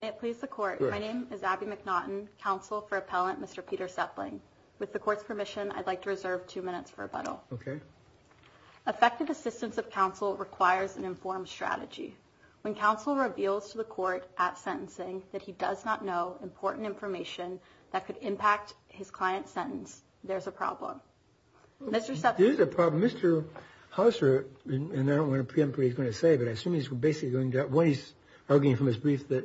It please the court. My name is Abby McNaughton, counsel for appellant Mr. Peter Sepling. With the court's permission, I'd like to reserve two minutes for rebuttal. OK. Affected assistance of counsel requires an informed strategy. When counsel reveals to the court at sentencing that he does not know important information that could impact his client's sentence. There's a problem. Mr. Sepling. There is a problem. Mr. Houser, and I don't want to preempt what he's going to say, but I assume he's basically arguing from his brief that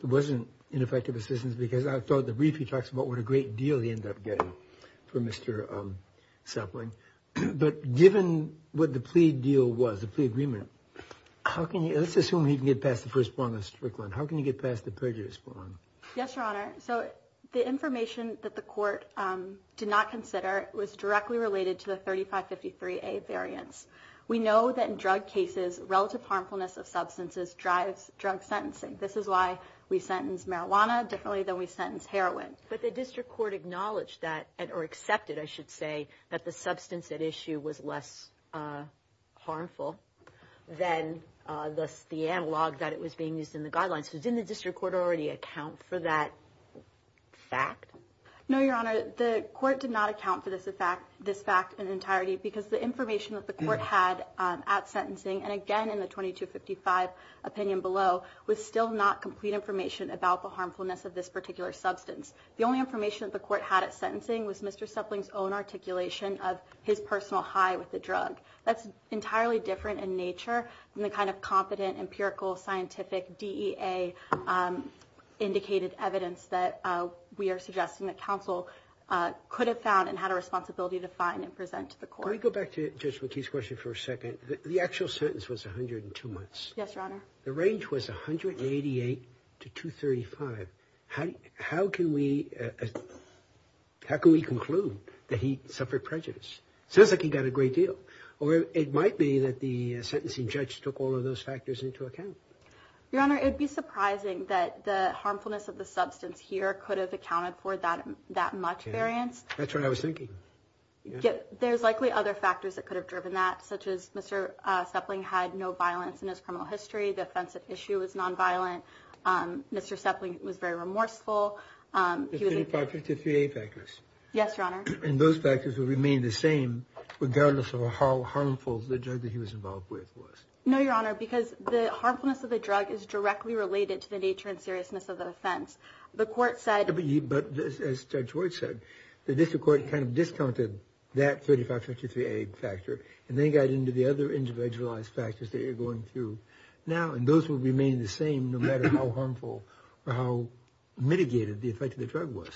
it wasn't ineffective assistance because I thought the brief he talks about what a great deal he ended up getting for Mr. Sepling. But given what the plea deal was, the plea agreement, how can you let's assume he can get past the first one? How can you get past the prejudice? Yes, your honor. So the information that the court did not consider was directly related to the thirty five fifty three a variance. We know that in drug cases, relative harmfulness of substances drives drug sentencing. This is why we sentence marijuana differently than we sentence heroin. But the district court acknowledged that or accepted, I should say, that the substance at issue was less harmful than the analog that it was being used in the guidelines. Who's in the district court already account for that fact? No, your honor. The court did not account for this fact, this fact in entirety, because the information that the court had at sentencing and again, in the twenty two fifty five opinion below was still not complete information about the harmfulness of this particular substance. The only information that the court had at sentencing was Mr. Sepling's own articulation of his personal high with the drug. That's entirely different in nature than the kind of competent empirical scientific D.A. indicated evidence that we are suggesting that counsel could have found and had a responsibility to find and present to the court. Go back to just what his question for a second. The actual sentence was one hundred and two months. Yes, your honor. The range was one hundred and eighty eight to two thirty five. How how can we how can we conclude that he suffered prejudice? Sounds like he got a great deal or it might be that the sentencing judge took all of those factors into account. Your honor, it'd be surprising that the harmfulness of the substance here could have accounted for that that much variance. That's what I was thinking. There's likely other factors that could have driven that, such as Mr. Sepling had no violence in his criminal history. The offensive issue is nonviolent. Mr. Sepling was very remorseful. He was a part of the three factors. Yes, your honor. And those factors will remain the same regardless of how harmful the judge that he was involved with was. No, your honor, because the harmfulness of the drug is directly related to the nature and seriousness of the offense. The court said, but as George said, the district court kind of discounted that thirty five fifty three a factor. And they got into the other individualized factors that you're going through now. And those will remain the same no matter how harmful or how mitigated the effect of the drug was.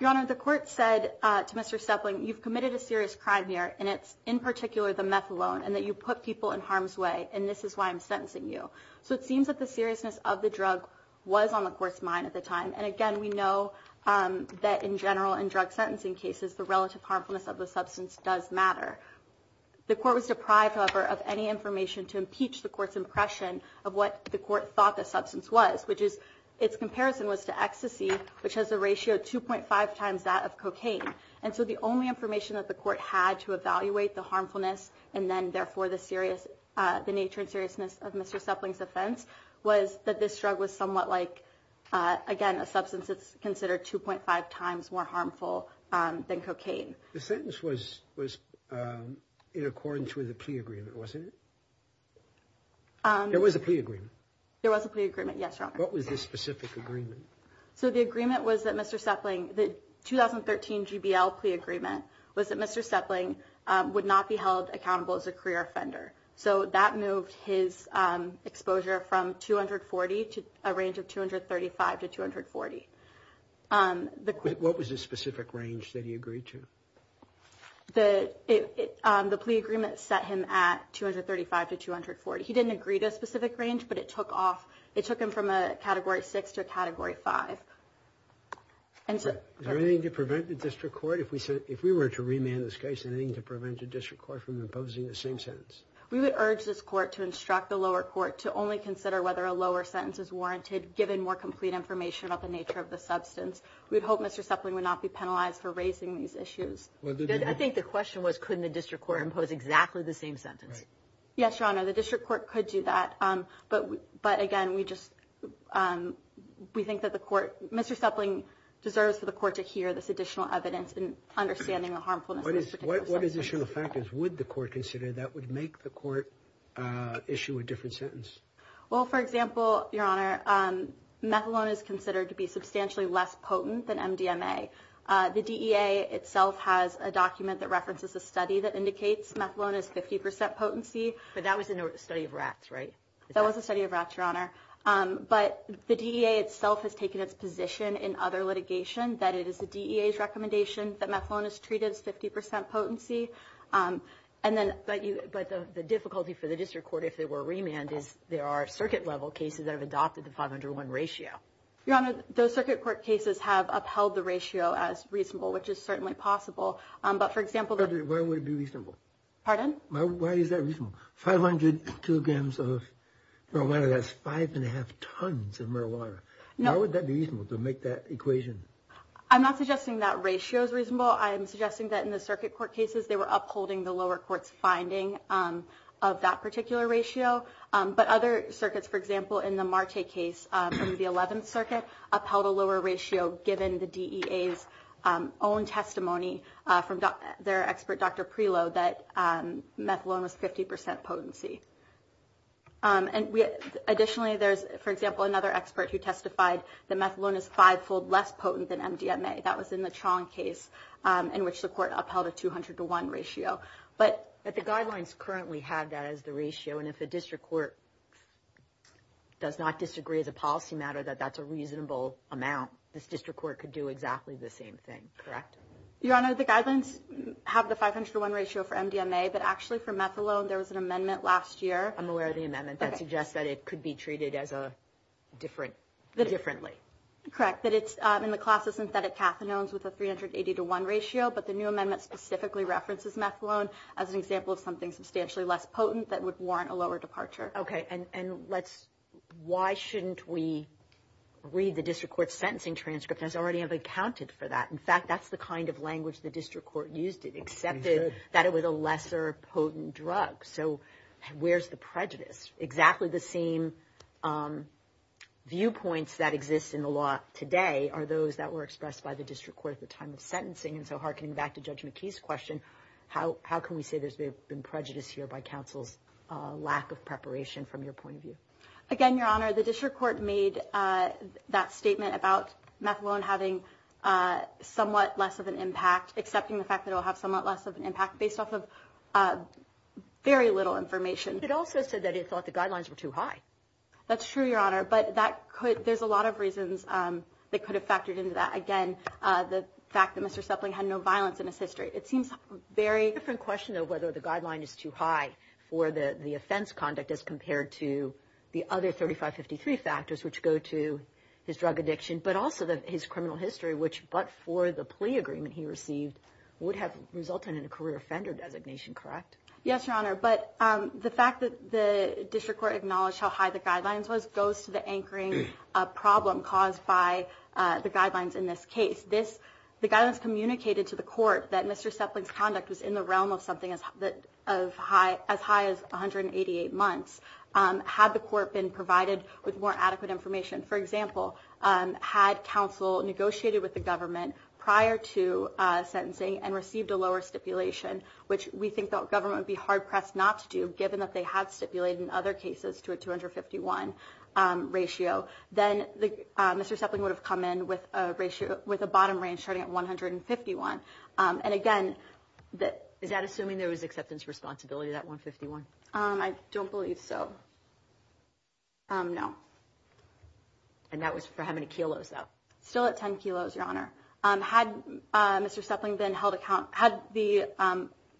Your honor, the court said to Mr. Sepling, you've committed a serious crime here. And it's in particular the meth alone and that you put people in harm's way. And this is why I'm sentencing you. So it seems that the seriousness of the drug was on the court's mind at the time. And again, we know that in general and drug sentencing cases, the relative harmfulness of the substance does matter. The court was deprived, however, of any information to impeach the court's impression of what the court thought the substance was, which is its comparison was to ecstasy, which has a ratio two point five times that of cocaine. And so the only information that the court had to evaluate the harmfulness and then therefore the serious the nature and seriousness of Mr. Sepling's offense was that this drug was somewhat like, again, a substance that's considered two point five times more harmful than cocaine. The sentence was was in accordance with the plea agreement, wasn't it? There was a plea agreement. There was a plea agreement. Yes, your honor. What was this specific agreement? So the agreement was that Mr. Sepling, the 2013 GBL plea agreement was that Mr. Sepling would not be held accountable as a career offender. So that moved his exposure from two hundred forty to a range of two hundred thirty five to two hundred forty. What was the specific range that he agreed to? The plea agreement set him at two hundred thirty five to two hundred forty. He didn't agree to a specific range, but it took off. It took him from a category six to category five. And so is there anything to prevent the district court? If we said if we were to remand this case, anything to prevent the district court from imposing the same sentence? We would urge this court to instruct the lower court to only consider whether a lower sentence is warranted, given more complete information about the nature of the substance. We'd hope Mr. Sepling would not be penalized for raising these issues. I think the question was, couldn't the district court impose exactly the same sentence? Yes, your honor. The district court could do that. But but again, we just we think that the court, Mr. Sepling deserves for the court to hear this additional evidence and understanding the harmfulness. What is what additional factors would the court consider that would make the court issue a different sentence? Well, for example, your honor, methadone is considered to be substantially less potent than MDMA. The DEA itself has a document that references a study that indicates methadone is 50 percent potency. But that was a study of rats, right? That was a study of rats, your honor. But the DEA itself has taken its position in other litigation that it is the DEA's recommendation that methadone is treated as 50 percent potency. And then but the difficulty for the district court, if they were remanded, is there are circuit level cases that have adopted the 501 ratio. Your honor, those circuit court cases have upheld the ratio as reasonable, which is certainly possible. But for example, why would it be reasonable? Pardon? Why is that reasonable? 500 kilograms of marijuana, that's five and a half tons of marijuana. Now, would that be reasonable to make that equation? I'm not suggesting that ratio is reasonable. I'm suggesting that in the circuit court cases, they were upholding the lower court's finding of that particular ratio. But other circuits, for example, in the Marte case from the 11th Circuit, upheld a lower ratio given the DEA's own testimony from their expert, Dr. Prelow, that methadone was 50 percent potency. And additionally, there's, for example, another expert who testified that methadone is five fold less potent than MDMA. That was in the Chong case in which the court upheld a 200 to one ratio. But the guidelines currently have that as the ratio. And if the district court does not disagree as a policy matter that that's a reasonable amount, this district court could do exactly the same thing. Correct? Your honor, the guidelines have the 500 to one ratio for MDMA. But actually for methadone, there was an amendment last year. I'm aware of the amendment that suggests that it could be treated as a different differently. Correct. That it's in the class of synthetic cathinones with a 380 to one ratio. But the new amendment specifically references methadone as an example of something substantially less potent that would warrant a lower departure. OK. And let's why shouldn't we read the district court sentencing transcript as already have accounted for that. In fact, that's the kind of language the district court used it, accepted that it was a lesser potent drug. So where's the prejudice? Exactly the same viewpoints that exist in the law today are those that were expressed by the district court at the time of sentencing. And so harkening back to Judge McKee's question, how how can we say there's been prejudice here by counsel's lack of preparation from your point of view? Again, your honor, the district court made that statement about methadone having somewhat less of an impact, accepting the fact that it will have somewhat less of an impact based off of very little information. It also said that it thought the guidelines were too high. That's true, your honor. But that could there's a lot of reasons that could have factored into that. Again, the fact that Mr. Supley had no violence in his history. It seems very different question of whether the guideline is too high for the offense conduct as compared to the other thirty five, fifty three factors which go to his drug addiction, but also his criminal history, which but for the plea agreement he received would have resulted in a career offender designation. Correct. Yes, your honor. But the fact that the district court acknowledged how high the guidelines was goes to the anchoring problem caused by the guidelines. In this case, this the guidance communicated to the court that Mr. Supley's conduct was in the realm of something that of high as high as one hundred and eighty eight months. Had the court been provided with more adequate information, for example, had counsel negotiated with the government prior to sentencing and received a lower stipulation, which we think the government would be hard pressed not to do, given that they had stipulated in other cases to a two hundred fifty one ratio. Then Mr. Supley would have come in with a ratio with a bottom range starting at one hundred and fifty one. And again, that is that assuming there was acceptance responsibility that one fifty one. I don't believe so. No. And that was for how many kilos still at ten kilos, your honor. Had Mr. Supley then held account had the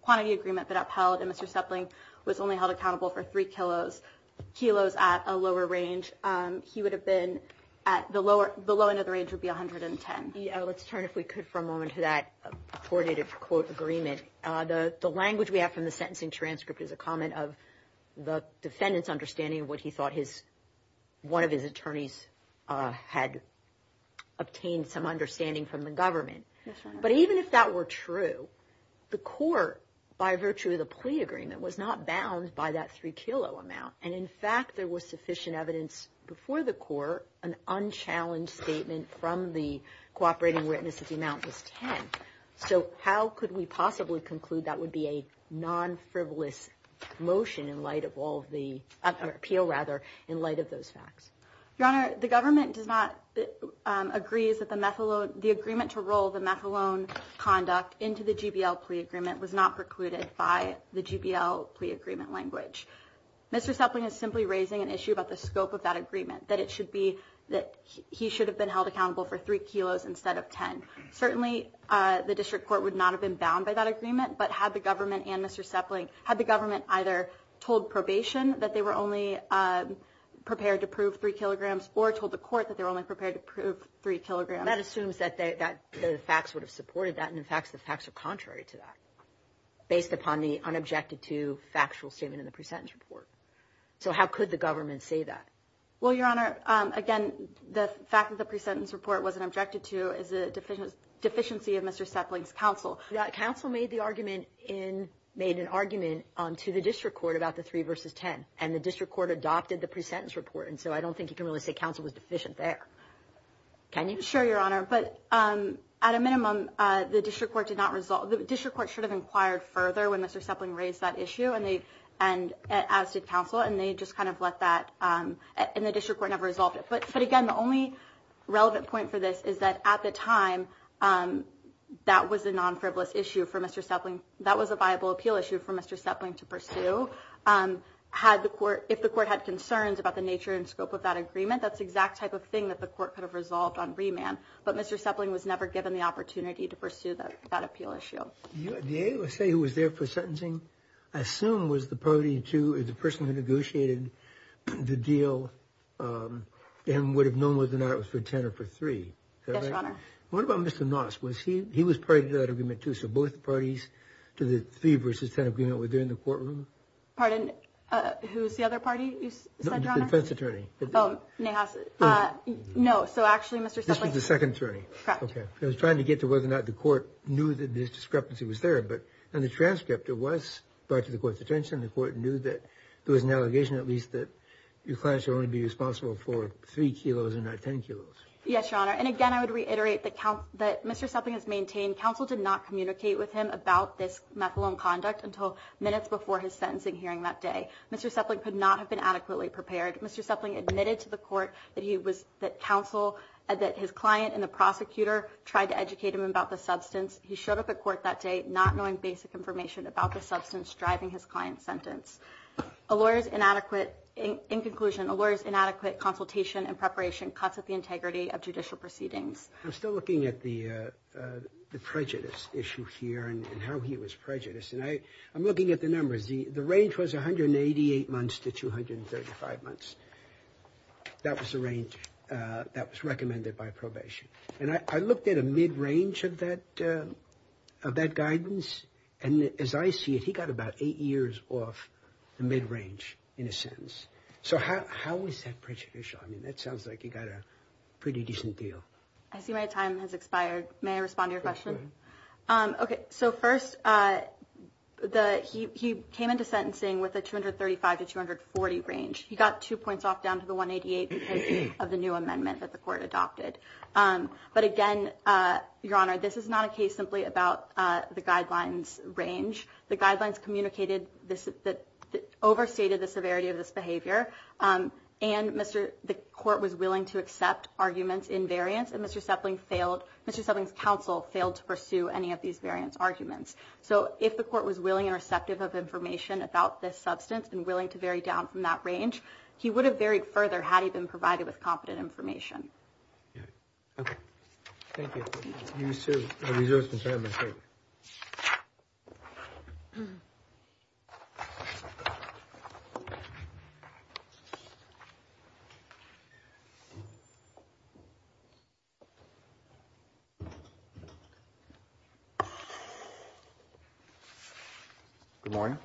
quantity agreement that upheld and Mr. Supley was only held accountable for three kilos kilos at a lower range. He would have been at the lower the low end of the range would be one hundred and ten. Let's turn if we could for a moment to that coordinated quote agreement. The language we have from the sentencing transcript is a comment of the defendant's understanding of what he thought his one of his attorneys had obtained some understanding from the government. But even if that were true, the court, by virtue of the plea agreement, was not bound by that three kilo amount. And in fact, there was sufficient evidence before the court. An unchallenged statement from the cooperating witnesses amount was 10. So how could we possibly conclude that would be a non frivolous motion in light of all the appeal? Rather, in light of those facts, your honor, the government does not agree is that the methadone, the agreement to roll the methadone conduct into the JBL plea agreement was not precluded by the JBL plea agreement language. Mr. Sepling is simply raising an issue about the scope of that agreement, that it should be that he should have been held accountable for three kilos instead of 10. Certainly, the district court would not have been bound by that agreement. But had the government and Mr. Sepling had the government either told probation that they were only prepared to prove three kilograms or told the court that they were only prepared to prove three kilograms. That assumes that the facts would have supported that. And in fact, the facts are contrary to that, based upon the unobjected to factual statement in the presentence report. So how could the government say that? Well, your honor, again, the fact that the presentence report wasn't objected to is a deficiency of Mr. Sepling's counsel. That counsel made the argument in made an argument to the district court about the three versus 10. And the district court adopted the presentence report. And so I don't think you can really say counsel was deficient there. Can you show your honor, but at a minimum, the district court did not resolve the district court should have inquired further when Mr. Sepling raised that issue and they and as did counsel and they just kind of let that in the district court never resolved it. But again, the only relevant point for this is that at the time that was a non frivolous issue for Mr. Sepling, that was a viable appeal issue for Mr. Sepling to pursue. Had the court if the court had concerns about the nature and scope of that agreement, that's the exact type of thing that the court could have resolved on remand. But Mr. Sepling was never given the opportunity to pursue that appeal issue. You say he was there for sentencing. I assume was the party to the person who negotiated the deal and would have known whether or not it was for 10 or for three. Yes, your honor. What about Mr. Noss? Was he he was part of that agreement, too. So both parties to the three versus 10 agreement were there in the courtroom. Pardon? Who's the other party? The defense attorney. Oh, no. So actually, Mr. Sepling, the second attorney was trying to get to whether or not the court knew that this discrepancy was there. But in the transcript, it was brought to the court's attention. The court knew that there was an allegation, at least that your client should only be responsible for three kilos and not 10 kilos. Yes, your honor. And again, I would reiterate the count that Mr. Sepling has maintained. Counsel did not communicate with him about this methadone conduct until minutes before his sentencing hearing that day. Mr. Sepling could not have been adequately prepared. Mr. Sepling admitted to the court that he was that counsel that his client and the prosecutor tried to educate him about the substance. He showed up at court that day not knowing basic information about the substance driving his client's sentence. A lawyer's inadequate in conclusion, a lawyer's inadequate consultation and preparation cuts at the integrity of judicial proceedings. I'm still looking at the the prejudice issue here and how he was prejudiced. And I I'm looking at the numbers. The range was 188 months to 235 months. That was the range that was recommended by probation. And I looked at a mid range of that of that guidance. And as I see it, he got about eight years off the mid range in a sense. So how is that prejudicial? I mean, that sounds like you got a pretty decent deal. I see my time has expired. May I respond to your question? OK, so first the he he came into sentencing with a 235 to 240 range. He got two points off down to the 188 of the new amendment that the court adopted. But again, your honor, this is not a case simply about the guidelines range. The guidelines communicated that overstated the severity of this behavior. And Mr. the court was willing to accept arguments in variance. And Mr. Sepling failed. Mr. Sepling's counsel failed to pursue any of these variance arguments. So if the court was willing and receptive of information about this substance and willing to vary down from that range, he would have varied further had he been provided with competent information. Thank you, sir. Good morning.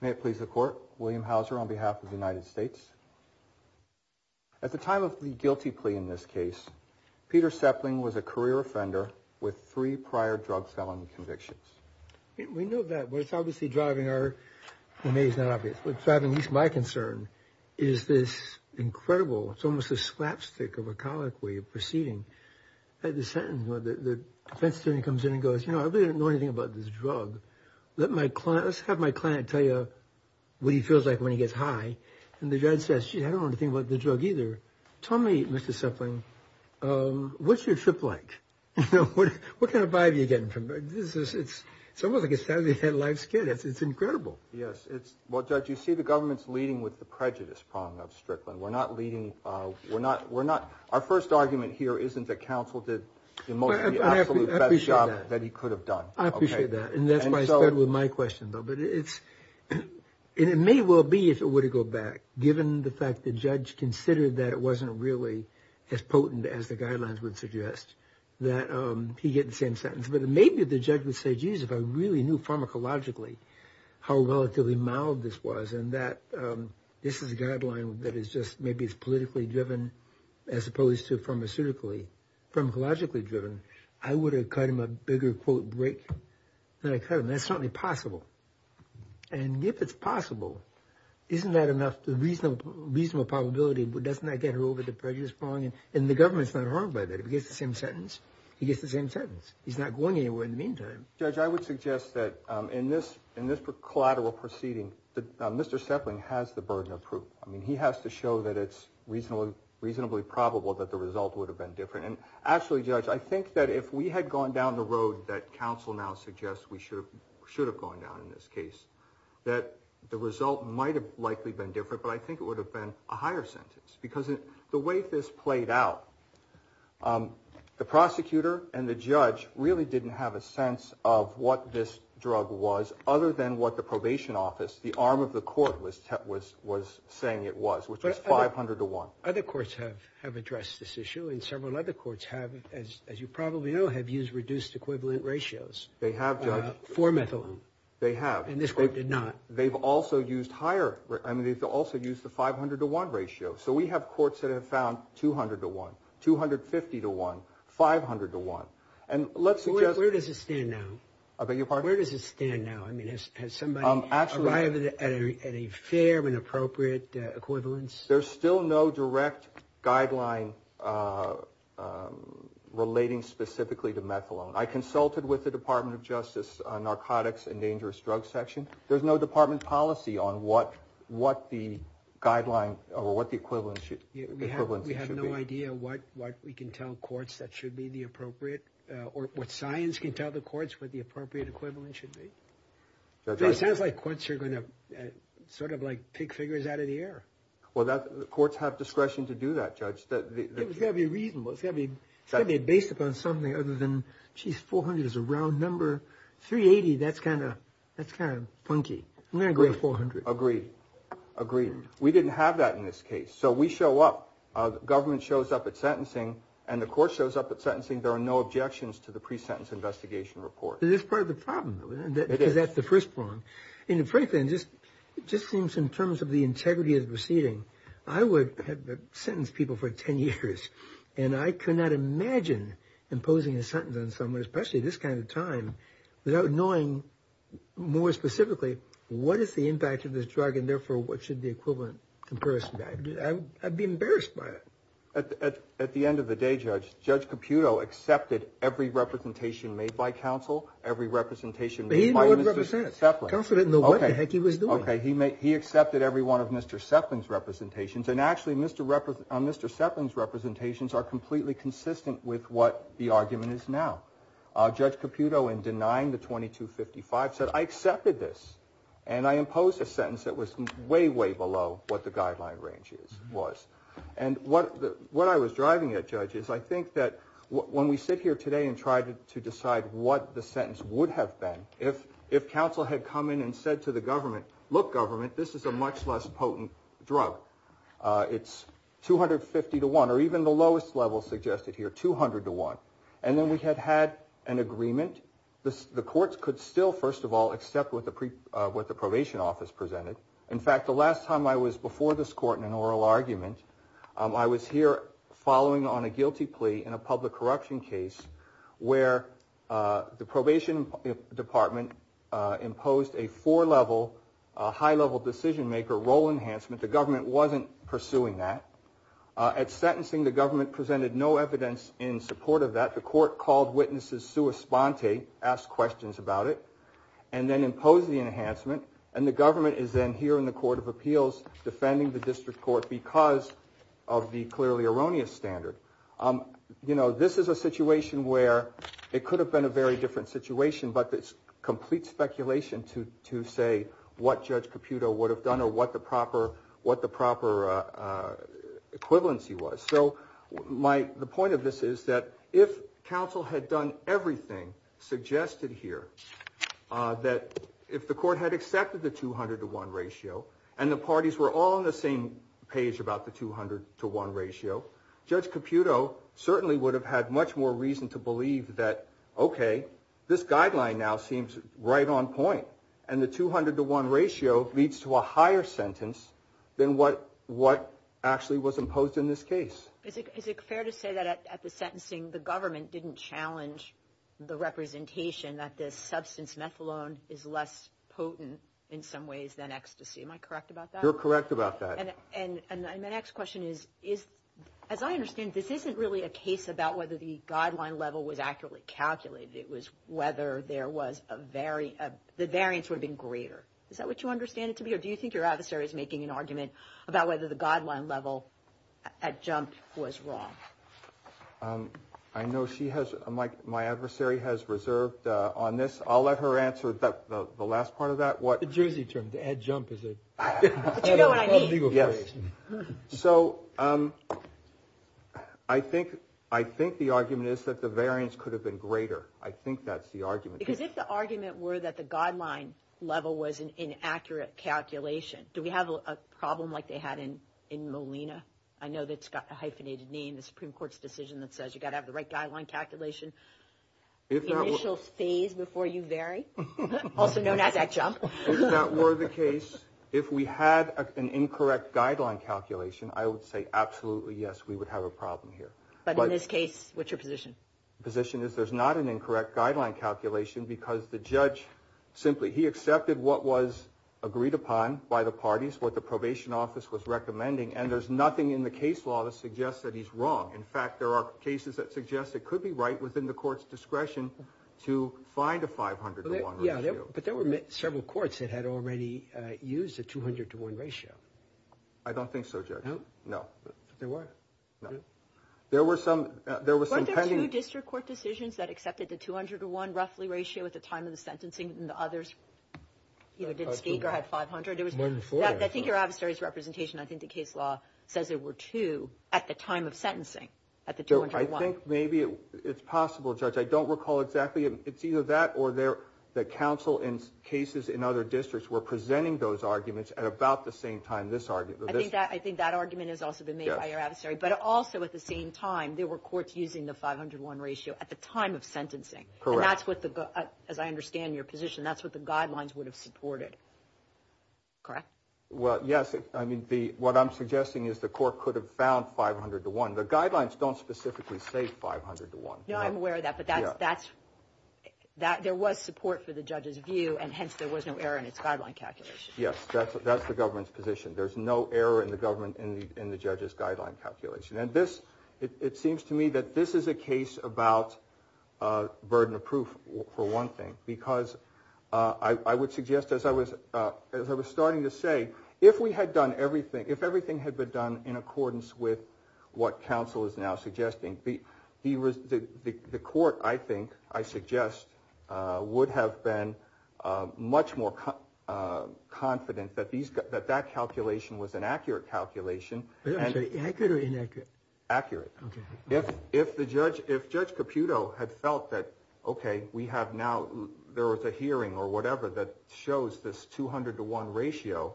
May it please the court, William Houser, on behalf of the United States. At the time of the guilty plea in this case, Peter Sepling was a career offender with three prior drug selling convictions. We know that what it's obviously driving our amazing obvious, what's driving least my concern is this incredible it's almost a slapstick of a colloquy of proceeding at the sentence, whether the defense attorney comes in and goes, you know, I really don't know anything about this drug. Let my class have my client tell you what he feels like when he gets high. And the judge says, gee, I don't want to think about the drug either. Tell me, Mr. Sepling, what's your trip like? What kind of vibe are you getting from this? It's almost like a Saturday Night Live skit. It's incredible. Yes, it's well, judge, you see the government's leading with the prejudice prong of Strickland. We're not leading. We're not, we're not. Our first argument here isn't that counsel did the absolute best job that he could have done. I appreciate that. And that's why I started with my question though, but it's, and it may well be, if it were to go back, given the fact that judge considered that it wasn't really as potent as the guidelines would suggest that he get the same sentence. But maybe the judge would say, geez, if I really knew pharmacologically how relatively mild this was, and that this is a guideline that is just, maybe it's politically driven as opposed to pharmaceutically, pharmacologically driven, I would have cut him a bigger quote break than I cut him. That's certainly possible. And if it's possible, isn't that enough? The reasonable, reasonable probability, but doesn't that get her over the prejudice prong and the government's not harmed by that. If he gets the same sentence, he gets the same sentence. He's not going anywhere in the meantime. Judge, I would suggest that in this, in this collateral proceeding, Mr. Sepling has the burden of proof. I mean, he has to show that it's reasonably, reasonably probable that the result would have been different. And actually judge, I think that if we had gone down the road that counsel now suggests we should have, should have gone down in this case, that the result might've likely been different, but I think it would have been a higher sentence because the way this played out, the prosecutor and the judge really didn't have a sense of what this drug was other than what the probation office, the arm of the court was, was, was saying it was, which was 500 to one. Other courts have, have addressed this issue and several other courts have, as, as you probably know, have used reduced equivalent ratios. They have for methadone. They have, and this group did not, they've also used higher, I mean, they've also used the 500 to one ratio. So we have courts that have found 200 to one, 250 to one, 500 to one. And let's see, where does it stand now? I beg your pardon? Where does it stand now? I mean, has somebody arrived at a fair and appropriate equivalence? There's still no direct guideline relating specifically to methadone. I consulted with the department of justice on narcotics and dangerous drug section. There's no department policy on what, what the guideline or what the equivalent should be. We have no idea what, what we can tell courts that should be the appropriate or what science can tell the courts, what the appropriate equivalent should be. So it sounds like courts are going to sort of like pick figures out of the air. Well, that courts have discretion to do that, judge. It's got to be reasonable. It's got to be, it's got to be based upon something other than, geez, 400 is a round number, 380, that's kind of, that's kind of funky. I'm going to go with 400. Agreed. Agreed. We didn't have that in this case. So we show up, government shows up at sentencing and the court shows up at sentencing. There are no objections to the pre-sentence investigation report. Is this part of the problem though? It is. Because that's the first prong. And frankly, it just, it just seems in terms of the integrity of the proceeding, I would have sentenced people for 10 years. And I could not imagine imposing a sentence on someone, especially at this kind of time, without knowing more specifically, what is the impact of this drug? And therefore, what should the equivalent comparison be? I'd be embarrassed by it. At the end of the day, judge, judge Caputo accepted every representation made by counsel, every representation made by Mr. Seflin. Counselor didn't know what the heck he was doing. Okay. He accepted every one of Mr. Seflin's representations. And actually Mr. Seflin's representations are completely consistent with what the argument is now. Judge Caputo in denying the 2255 said, I accepted this and I imposed a sentence that was way, way below what the guideline range is, was. And what I was driving at judge is I think that when we sit here today and try to decide what the sentence would have been, if counsel had come in and said to the government, look government, this is a much less potent drug. It's 250 to one, or even the lowest level suggested here, 200 to one. And then we had had an agreement. The courts could still, first of all, accept what the probation office presented. In fact, the last time I was before this court in an oral argument, I was here following on a guilty plea in a public corruption case where the probation department imposed a four level, a high level decision maker role enhancement. The government wasn't pursuing that. At sentencing, the government presented no evidence in support of that. The court called witnesses sua sponte, asked questions about it, and then imposed the enhancement. And the government is then here in the court of appeals defending the district court because of the clearly erroneous standard. You know, this is a situation where it could have been a very different situation, but it's complete speculation to say what judge Caputo would have done or what the proper, what the proper equivalency was. So my, the point of this is that if counsel had done everything suggested here, that if the court had accepted the 200 to one ratio and the parties were all on the same page about the 200 to one ratio, judge Caputo certainly would have had much more reason to believe that, okay, this guideline now seems right on point. And the 200 to one ratio leads to a higher sentence than what, what actually was imposed in this case. Is it fair to say that at the sentencing, the government didn't challenge the representation that this substance methylone is less potent in some ways than ecstasy. Am I correct about that? You're correct about that. And, and, and my next question is, is, as I understand, this isn't really a case about whether the guideline level was accurately calculated. It was whether there was a very, the variance would have been greater. Is that what you understand it to be? Or do you think your adversary is making an argument about whether the guideline level at jump was wrong? I know she has, my, my adversary has reserved on this. I'll let her answer the last part of that. What? The Jersey term, the adjump is it? So I think, I think the argument is that the variance could have been greater. I think that's the argument. Because if the argument were that the guideline level was an inaccurate calculation, do we have a problem like they had in, in Molina? I know that Scott, the hyphenated name, the Supreme court's decision that says you've got to have the right guideline calculation, initial phase before you vary, also known as adjump. If that were the case, if we had an incorrect guideline calculation, I would say absolutely yes, we would have a problem here. But in this case, what's your position? Position is there's not an incorrect guideline calculation because the judge simply, he accepted what was agreed upon by the parties, what the probation office was recommending, and there's nothing in the case law that suggests that he's wrong. In fact, there are cases that suggest it could be right within the court's discretion to find a 500 to one ratio. But there were several courts that had already used a 200 to one ratio. I don't think so, judge. No, there were. No. There were some, there was some pending. There were two district court decisions that accepted the 200 to one roughly ratio at the time of the sentencing and the others, you know, didn't speak or had 500. It was, I think your adversary's representation, I think the case law says there were two at the time of sentencing, at the 200 to one. So I think maybe it's possible, judge. I don't recall exactly. It's either that or there, that counsel in cases in other districts were presenting those arguments at about the same time. This argument. I think that argument has also been made by your adversary, but also at the same time, there were courts using the 500 to one ratio at the time of sentencing. Correct. That's what the, as I understand your position, that's what the guidelines would have supported. Correct. Well, yes. I mean, the, what I'm suggesting is the court could have found 500 to one. The guidelines don't specifically say 500 to one. No, I'm aware of that, but that's, that's, that there was support for the judge's view and hence there was no error in its guideline calculation. Yes. That's, that's the government's position. There's no error in the government, in the, in the judge's guideline calculation. And this, it seems to me that this is a case about a burden of proof for one thing, because I would suggest, as I was, as I was starting to say, if we had done everything, if everything had been done in accordance with what counsel is now suggesting, the court, I think, I suggest would have been much more confident that these, that that calculation was an accurate calculation. I'm sorry, accurate or inaccurate? Accurate. Okay. If, if the judge, if judge Caputo had felt that, okay, we have now, there was a hearing or whatever that shows this 200 to one ratio,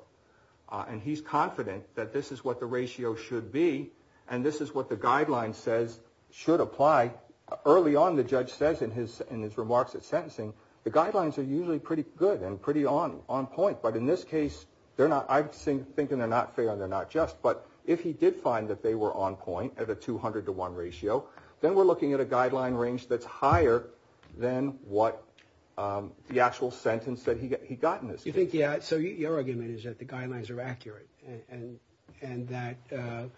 and he's confident that this is what the ratio should be. And this is what the guideline says should apply early on. The judge says in his, in his remarks at sentencing, the guidelines are usually pretty good and pretty on, on point. But in this case, they're not, I've seen thinking they're not fair and they're not just, but if he did find that they were on point at a 200 to one ratio, then we're looking at a guideline range that's higher than what the actual sentence that he, he got in this case. You think, yeah, so your argument is that the guidelines are accurate and, and, and that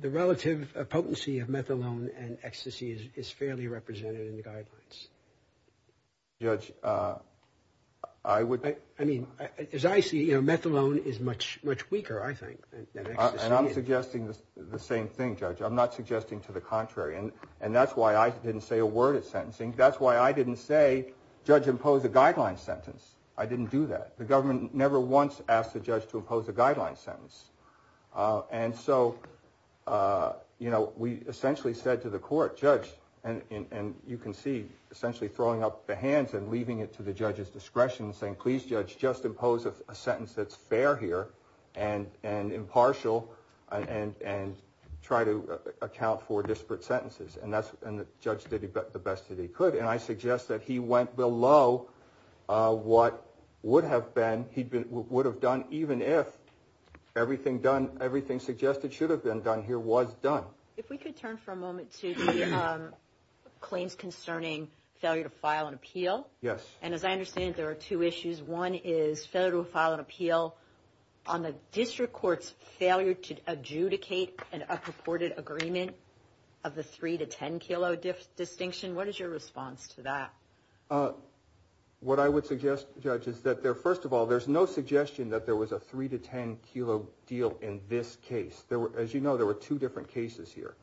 the relative potency of methadone and ecstasy is, is fairly represented in the guidelines. Judge, I would. I mean, as I see, you know, methadone is much, much weaker, I think, than ecstasy is. And I'm suggesting the same thing, Judge. I'm not suggesting to the contrary. And, and that's why I didn't say a word at sentencing. That's why I didn't say, judge, impose a guideline sentence. I didn't do that. The government never once asked the judge to impose a guideline sentence. And so, you know, we essentially said to the court, judge, and, and you can see essentially throwing up the hands and leaving it to the judge's discretion and please, judge, just impose a sentence that's fair here and, and impartial and, and, and try to account for disparate sentences. And that's, and the judge did the best that he could. And I suggest that he went below what would have been, he'd been, would have done even if everything done, everything suggested should have been done here was done. If we could turn for a moment to the claims concerning failure to file an appeal. Yes. And as I understand it, there are two issues. One is failure to file an appeal on the district court's failure to adjudicate an a purported agreement of the three to 10 kilo distinction. What is your response to that? Uh, what I would suggest judge is that there, first of all, there's no suggestion that there was a three to 10 kilo deal in this case. There were, as you know, there were two different cases here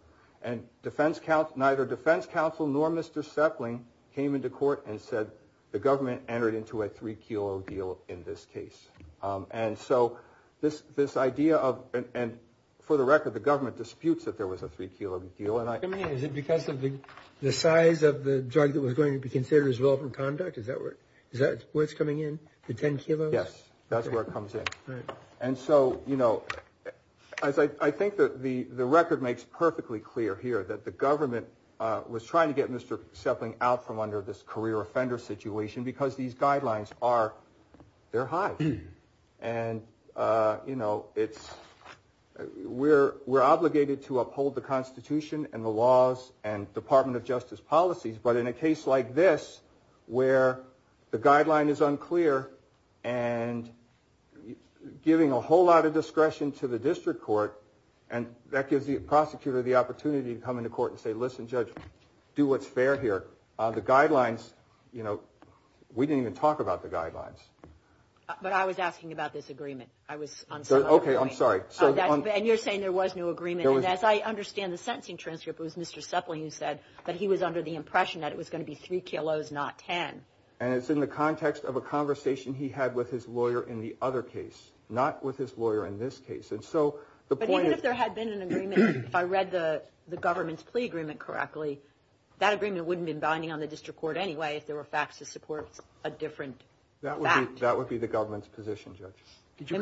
and defense count, neither defense counsel, nor Mr. Sepling came into court and said the government entered into a three kilo deal in this case. Um, and so this, this idea of, and for the record, the government disputes that there was a three kilo deal. And I mean, is it because of the, the size of the drug that was going to be considered as well from conduct? Is that where, is that where it's coming in? The 10 kilos? Yes. That's where it comes in. And so, you know, as I, I think that the, the record makes perfectly clear here that the government, uh, was trying to get Mr. Sepling out from under this career offender situation because these guidelines are, they're high and, uh, you know, it's, we're, we're obligated to uphold the constitution and the laws and department of justice policies. But in a case like this, where the guideline is unclear and giving a whole lot of discretion to the district court, and that gives the prosecutor the opportunity to come into court and say, listen, judge, do what's fair here. Uh, the guidelines, you know, we didn't even talk about the guidelines. But I was asking about this agreement. I was on. Okay. I'm sorry. So then you're saying there was no agreement. And as I understand the sentencing transcript, it was Mr. Sepling who said that he was under the impression that it was going to be three kilos, not 10. And it's in the context of a conversation he had with his lawyer in the other case, not with his lawyer in this case. And so the point if there had been an agreement, if I read the, the government's plea agreement correctly, that agreement wouldn't have been binding on the district court anyway, if there were facts to support a different, that would be, that would be the government's position. Judge, did you,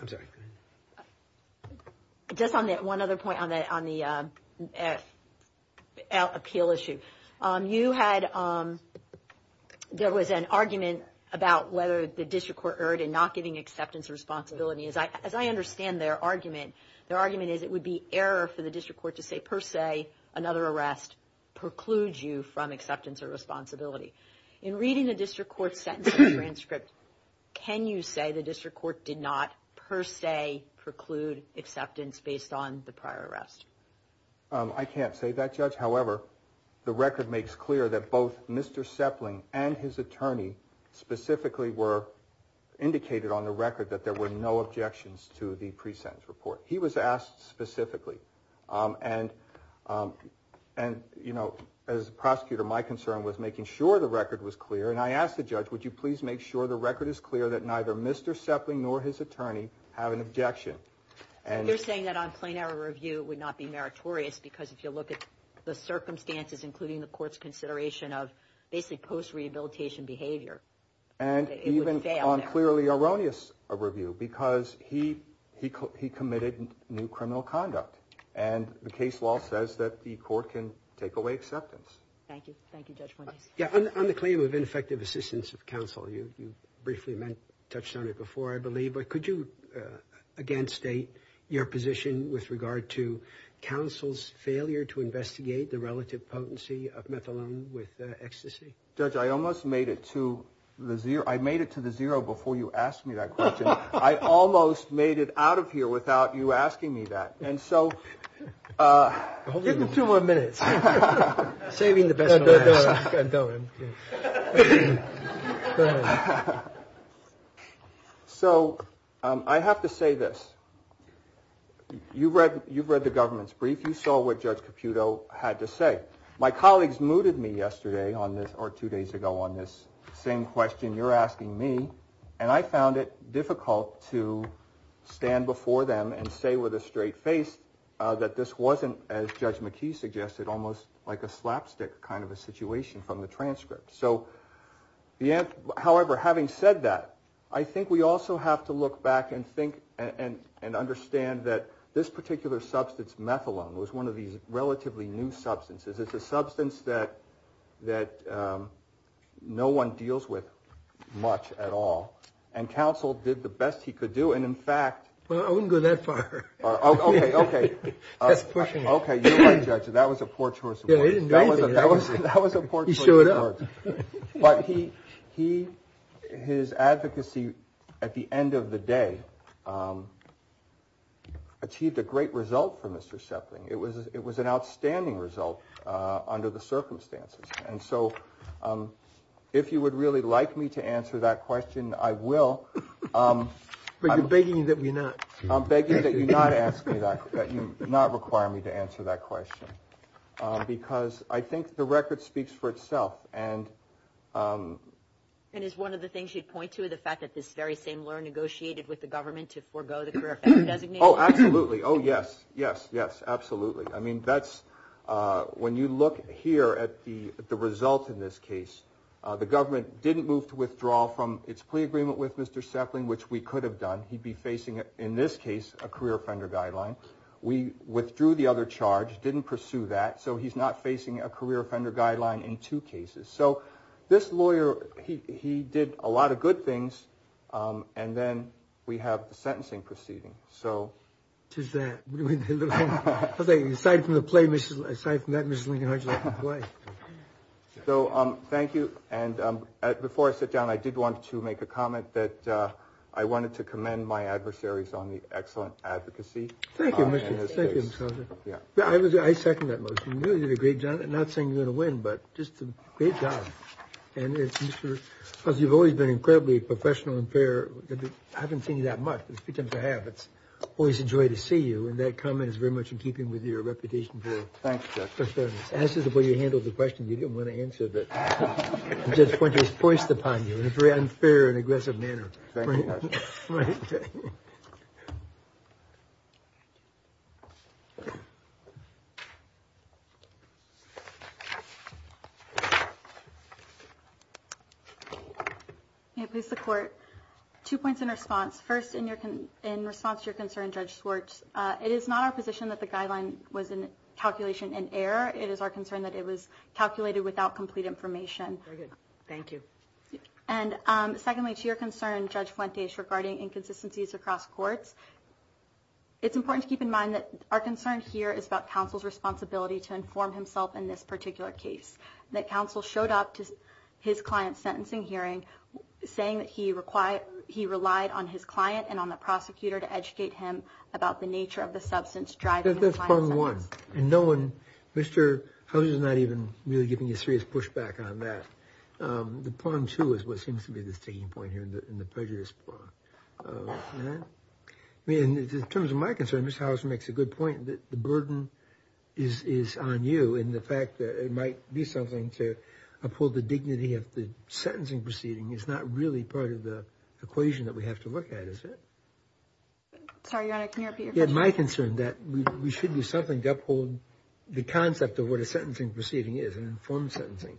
I'm sorry. Just on that one other point on that, on the, uh, appeal issue. Um, you had, um, there was an argument about whether the district court erred and not giving acceptance responsibility. As I, as I understand their argument, their argument is it would be error for the district court to say per se, another arrest precludes you from acceptance or responsibility in reading the district court sentencing transcript. Can you say the district court did not per se preclude acceptance based on the prior arrest? Um, I can't say that judge. However, the record makes clear that both Mr. Sepling and his attorney specifically were indicated on the record that there were no objections to the pre-sentence report. He was asked specifically. Um, and, um, and you know, as a prosecutor, my concern was making sure the record was clear. And I asked the judge, would you please make sure the record is clear that neither Mr. Sepling nor his attorney have an objection. And they're saying that on plain error review would not be meritorious because if you look at the circumstances, including the court's consideration of basically post rehabilitation behavior. And even on clearly erroneous review, because he, he, he committed new criminal conduct and the case law says that the court can take away acceptance. Thank you. Thank you, judge. Yeah. On the claim of ineffective assistance of counsel, you, you briefly touched on it before, I believe, but could you, uh, again, state your position with regard to counsel's failure to investigate the relative potency of methadone with ecstasy? Judge, I almost made it to the zero. I made it to the zero before you asked me that question. I almost made it out of here without you asking me that. And so, uh, two more minutes saving the best. So, um, I have to say this, you've read, you've read the government's brief. You saw what judge Caputo had to say. My colleagues mooted me yesterday on this or two days ago on this same question you're asking me, and I found it difficult to stand before them and say with a straight face, uh, that this wasn't as judge McKee suggested, almost like a slapstick kind of a situation from the transcript. So the, however, having said that, I think we also have to look back and think and, and, and understand that this particular substance methadone was one of relatively new substances. It's a substance that, that, um, no one deals with much at all. And counsel did the best he could do. And in fact, well, I wouldn't go that far. Oh, okay. Okay. Okay. You might judge it. That was a poor choice of words. That was a, that was a, that was a poor choice of words, but he, he, his advocacy at the end of the day, um, achieved a great result for Mr. Shepling. It was, it was an outstanding result, uh, under the circumstances. And so, um, if you would really like me to answer that question, I will, um, I'm begging you that we not, I'm begging that you not ask me that, that you not require me to answer that question. Um, because I think the record speaks for itself and, um, And is one of the things you'd point to the fact that this very same law negotiated with the government to forego the career effect designation? Oh, absolutely. Oh, yes, yes, yes. Absolutely. I mean, that's, uh, when you look here at the, the result in this case, uh, the government didn't move to withdraw from its plea agreement with Mr. Shepling, which we could have done. He'd be facing it in this case, a career offender guideline. We withdrew the other charge, didn't pursue that. So he's not facing a career offender guideline in two cases. So this lawyer, he, he did a lot of good things. Um, and then we have the sentencing proceeding. So just that aside from the play, aside from that, Mrs. Lincoln, how'd you like the play? So, um, thank you. And, um, before I sit down, I did want to make a comment that, uh, I wanted to commend my adversaries on the excellent advocacy in this case. Yeah, I was, I second that motion. No, you did a great job. I'm not saying you're going to win, but just a great job. And as you've always been incredibly professional and fair, I haven't seen you that much, but it's a few times I have. It's always a joy to see you. And that comment is very much in keeping with your reputation. Thanks, Jeff. As to the way you handled the question, you didn't want to answer it. Judge Pointer is poised upon you in a very unfair and aggressive manner. May it please the court. Two points in response. First, in your, in response to your concern, Judge Swartz, uh, it is not our position that the guideline was in calculation and error. It is our concern that it was calculated without complete information. Thank you. And, um, secondly, to your concern, Judge Fuentes regarding inconsistencies across courts. It's important to keep in mind that our concern here is about counsel's responsibility to inform himself in this particular case, that counsel showed up to his client's sentencing hearing saying that he required, he was there to inform his client and on the prosecutor to educate him about the nature of the substance driving. That's part of one and no one, Mr. Houser is not even really giving you a serious pushback on that. Um, the point too, is what seems to be the sticking point here in the, in the prejudice part of that, I mean, in terms of my concern, Mr. Houser makes a good point that the burden is, is on you in the fact that it might be something to uphold the dignity of the sentencing proceeding. It's not really part of the equation that we have to look at, is it? Sorry, Your Honor, can you repeat your question? It's my concern that we should do something to uphold the concept of what a sentencing proceeding is, an informed sentencing,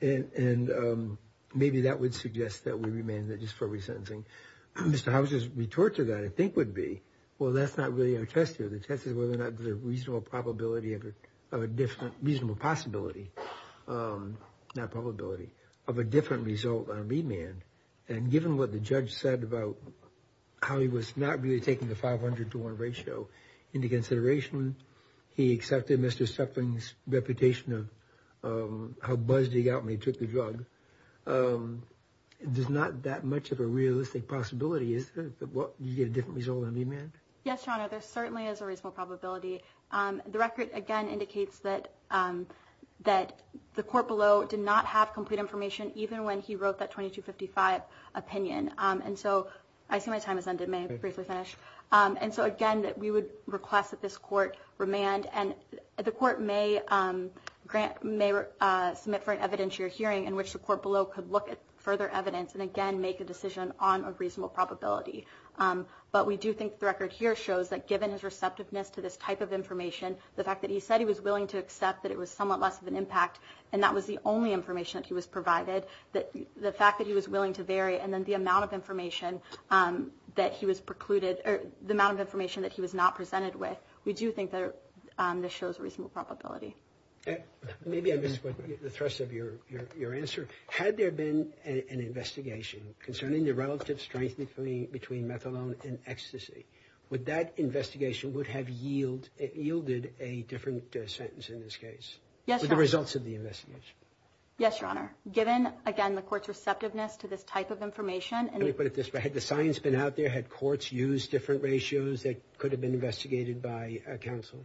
and, and, um, maybe that would suggest that we remand that just for resentencing, Mr. Houser's retort to that, I think would be, well, that's not really our test here. The test is whether or not there's a reasonable probability of a different, a different result on remand and given what the judge said about how he was not really taking the 500 to one ratio into consideration, he accepted Mr. Suffolk's reputation of, um, how buzzed he got when he took the drug. Um, there's not that much of a realistic possibility. Is that what you get a different result on remand? Yes, Your Honor. There certainly is a reasonable probability. Um, the record again indicates that, um, that the court below did not have complete information even when he wrote that 2255 opinion. Um, and so I see my time has ended, may I briefly finish? Um, and so again, that we would request that this court remand and the court may, um, grant, may, uh, submit for an evidentiary hearing in which the court below could look at further evidence and again, make a decision on a reasonable probability. Um, but we do think the record here shows that given his receptiveness to this type of information, the fact that he said he was willing to accept that it was somewhat less of an impact and that was the only information that he was provided that the fact that he was willing to vary. And then the amount of information, um, that he was precluded or the amount of information that he was not presented with. We do think that, um, this shows a reasonable probability. Maybe I missed the thrust of your, your, your answer. Had there been an investigation concerning the relative strength between methadone and ecstasy, would that investigation would have yield, yielded a different sentence in this case? Yes. The results of the investigation. Yes, Your Honor. Given again, the court's receptiveness to this type of information and you put it this way, had the science been out there, had courts use different ratios that could have been investigated by a counsel?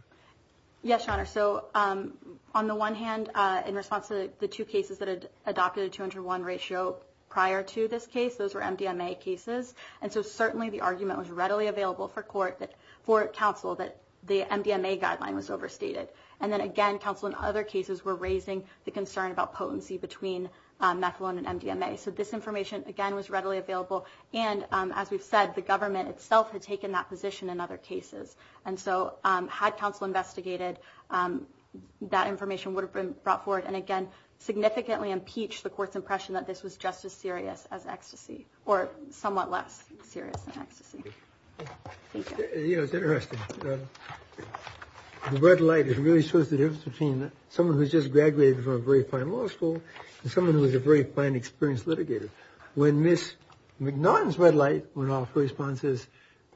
Yes, Your Honor. So, um, on the one hand, uh, in response to the two cases that had adopted a 201 ratio prior to this case, those were MDMA cases. And so certainly the argument was readily available for court that for counsel, that the MDMA guideline was overstated. And then again, counsel in other cases were raising the concern about potency between, um, methadone and MDMA. So this information again was readily available. And, um, as we've said, the government itself had taken that position in other cases. And so, um, had counsel investigated, um, that information would have been brought forward. And again, significantly impeached the court's impression that this was just as serious as ecstasy or somewhat less serious than ecstasy. Thank you. You know, it's interesting. The red light, it really shows the difference between someone who's just graduated from a very fine law school and someone who is a very fine experienced litigator. When Ms. McNaughton's red light went off, her response is,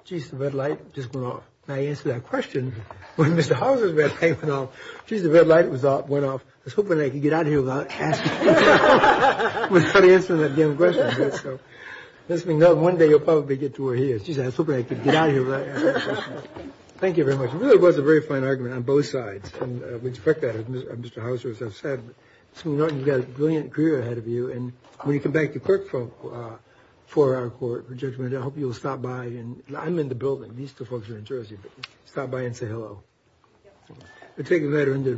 geez, the red light just went off. And I answered that question when Mr. Houser's red light went off, geez, the red light went off. I was hoping I could get out of here without answering that damn question. Ms. McNaughton, one day you'll probably get to where he is. Geez, I was hoping I could get out of here without answering that question. Thank you very much. It really was a very fine argument on both sides. And, uh, with respect to that, Mr. Houser, as I've said, Ms. McNaughton, you've got a brilliant career ahead of you. And when you come back to clerk for, uh, for our court for judgment, I hope you'll stop by and I'm in the building. These two folks are in Jersey, but stop by and say hello. I'll take the matter into.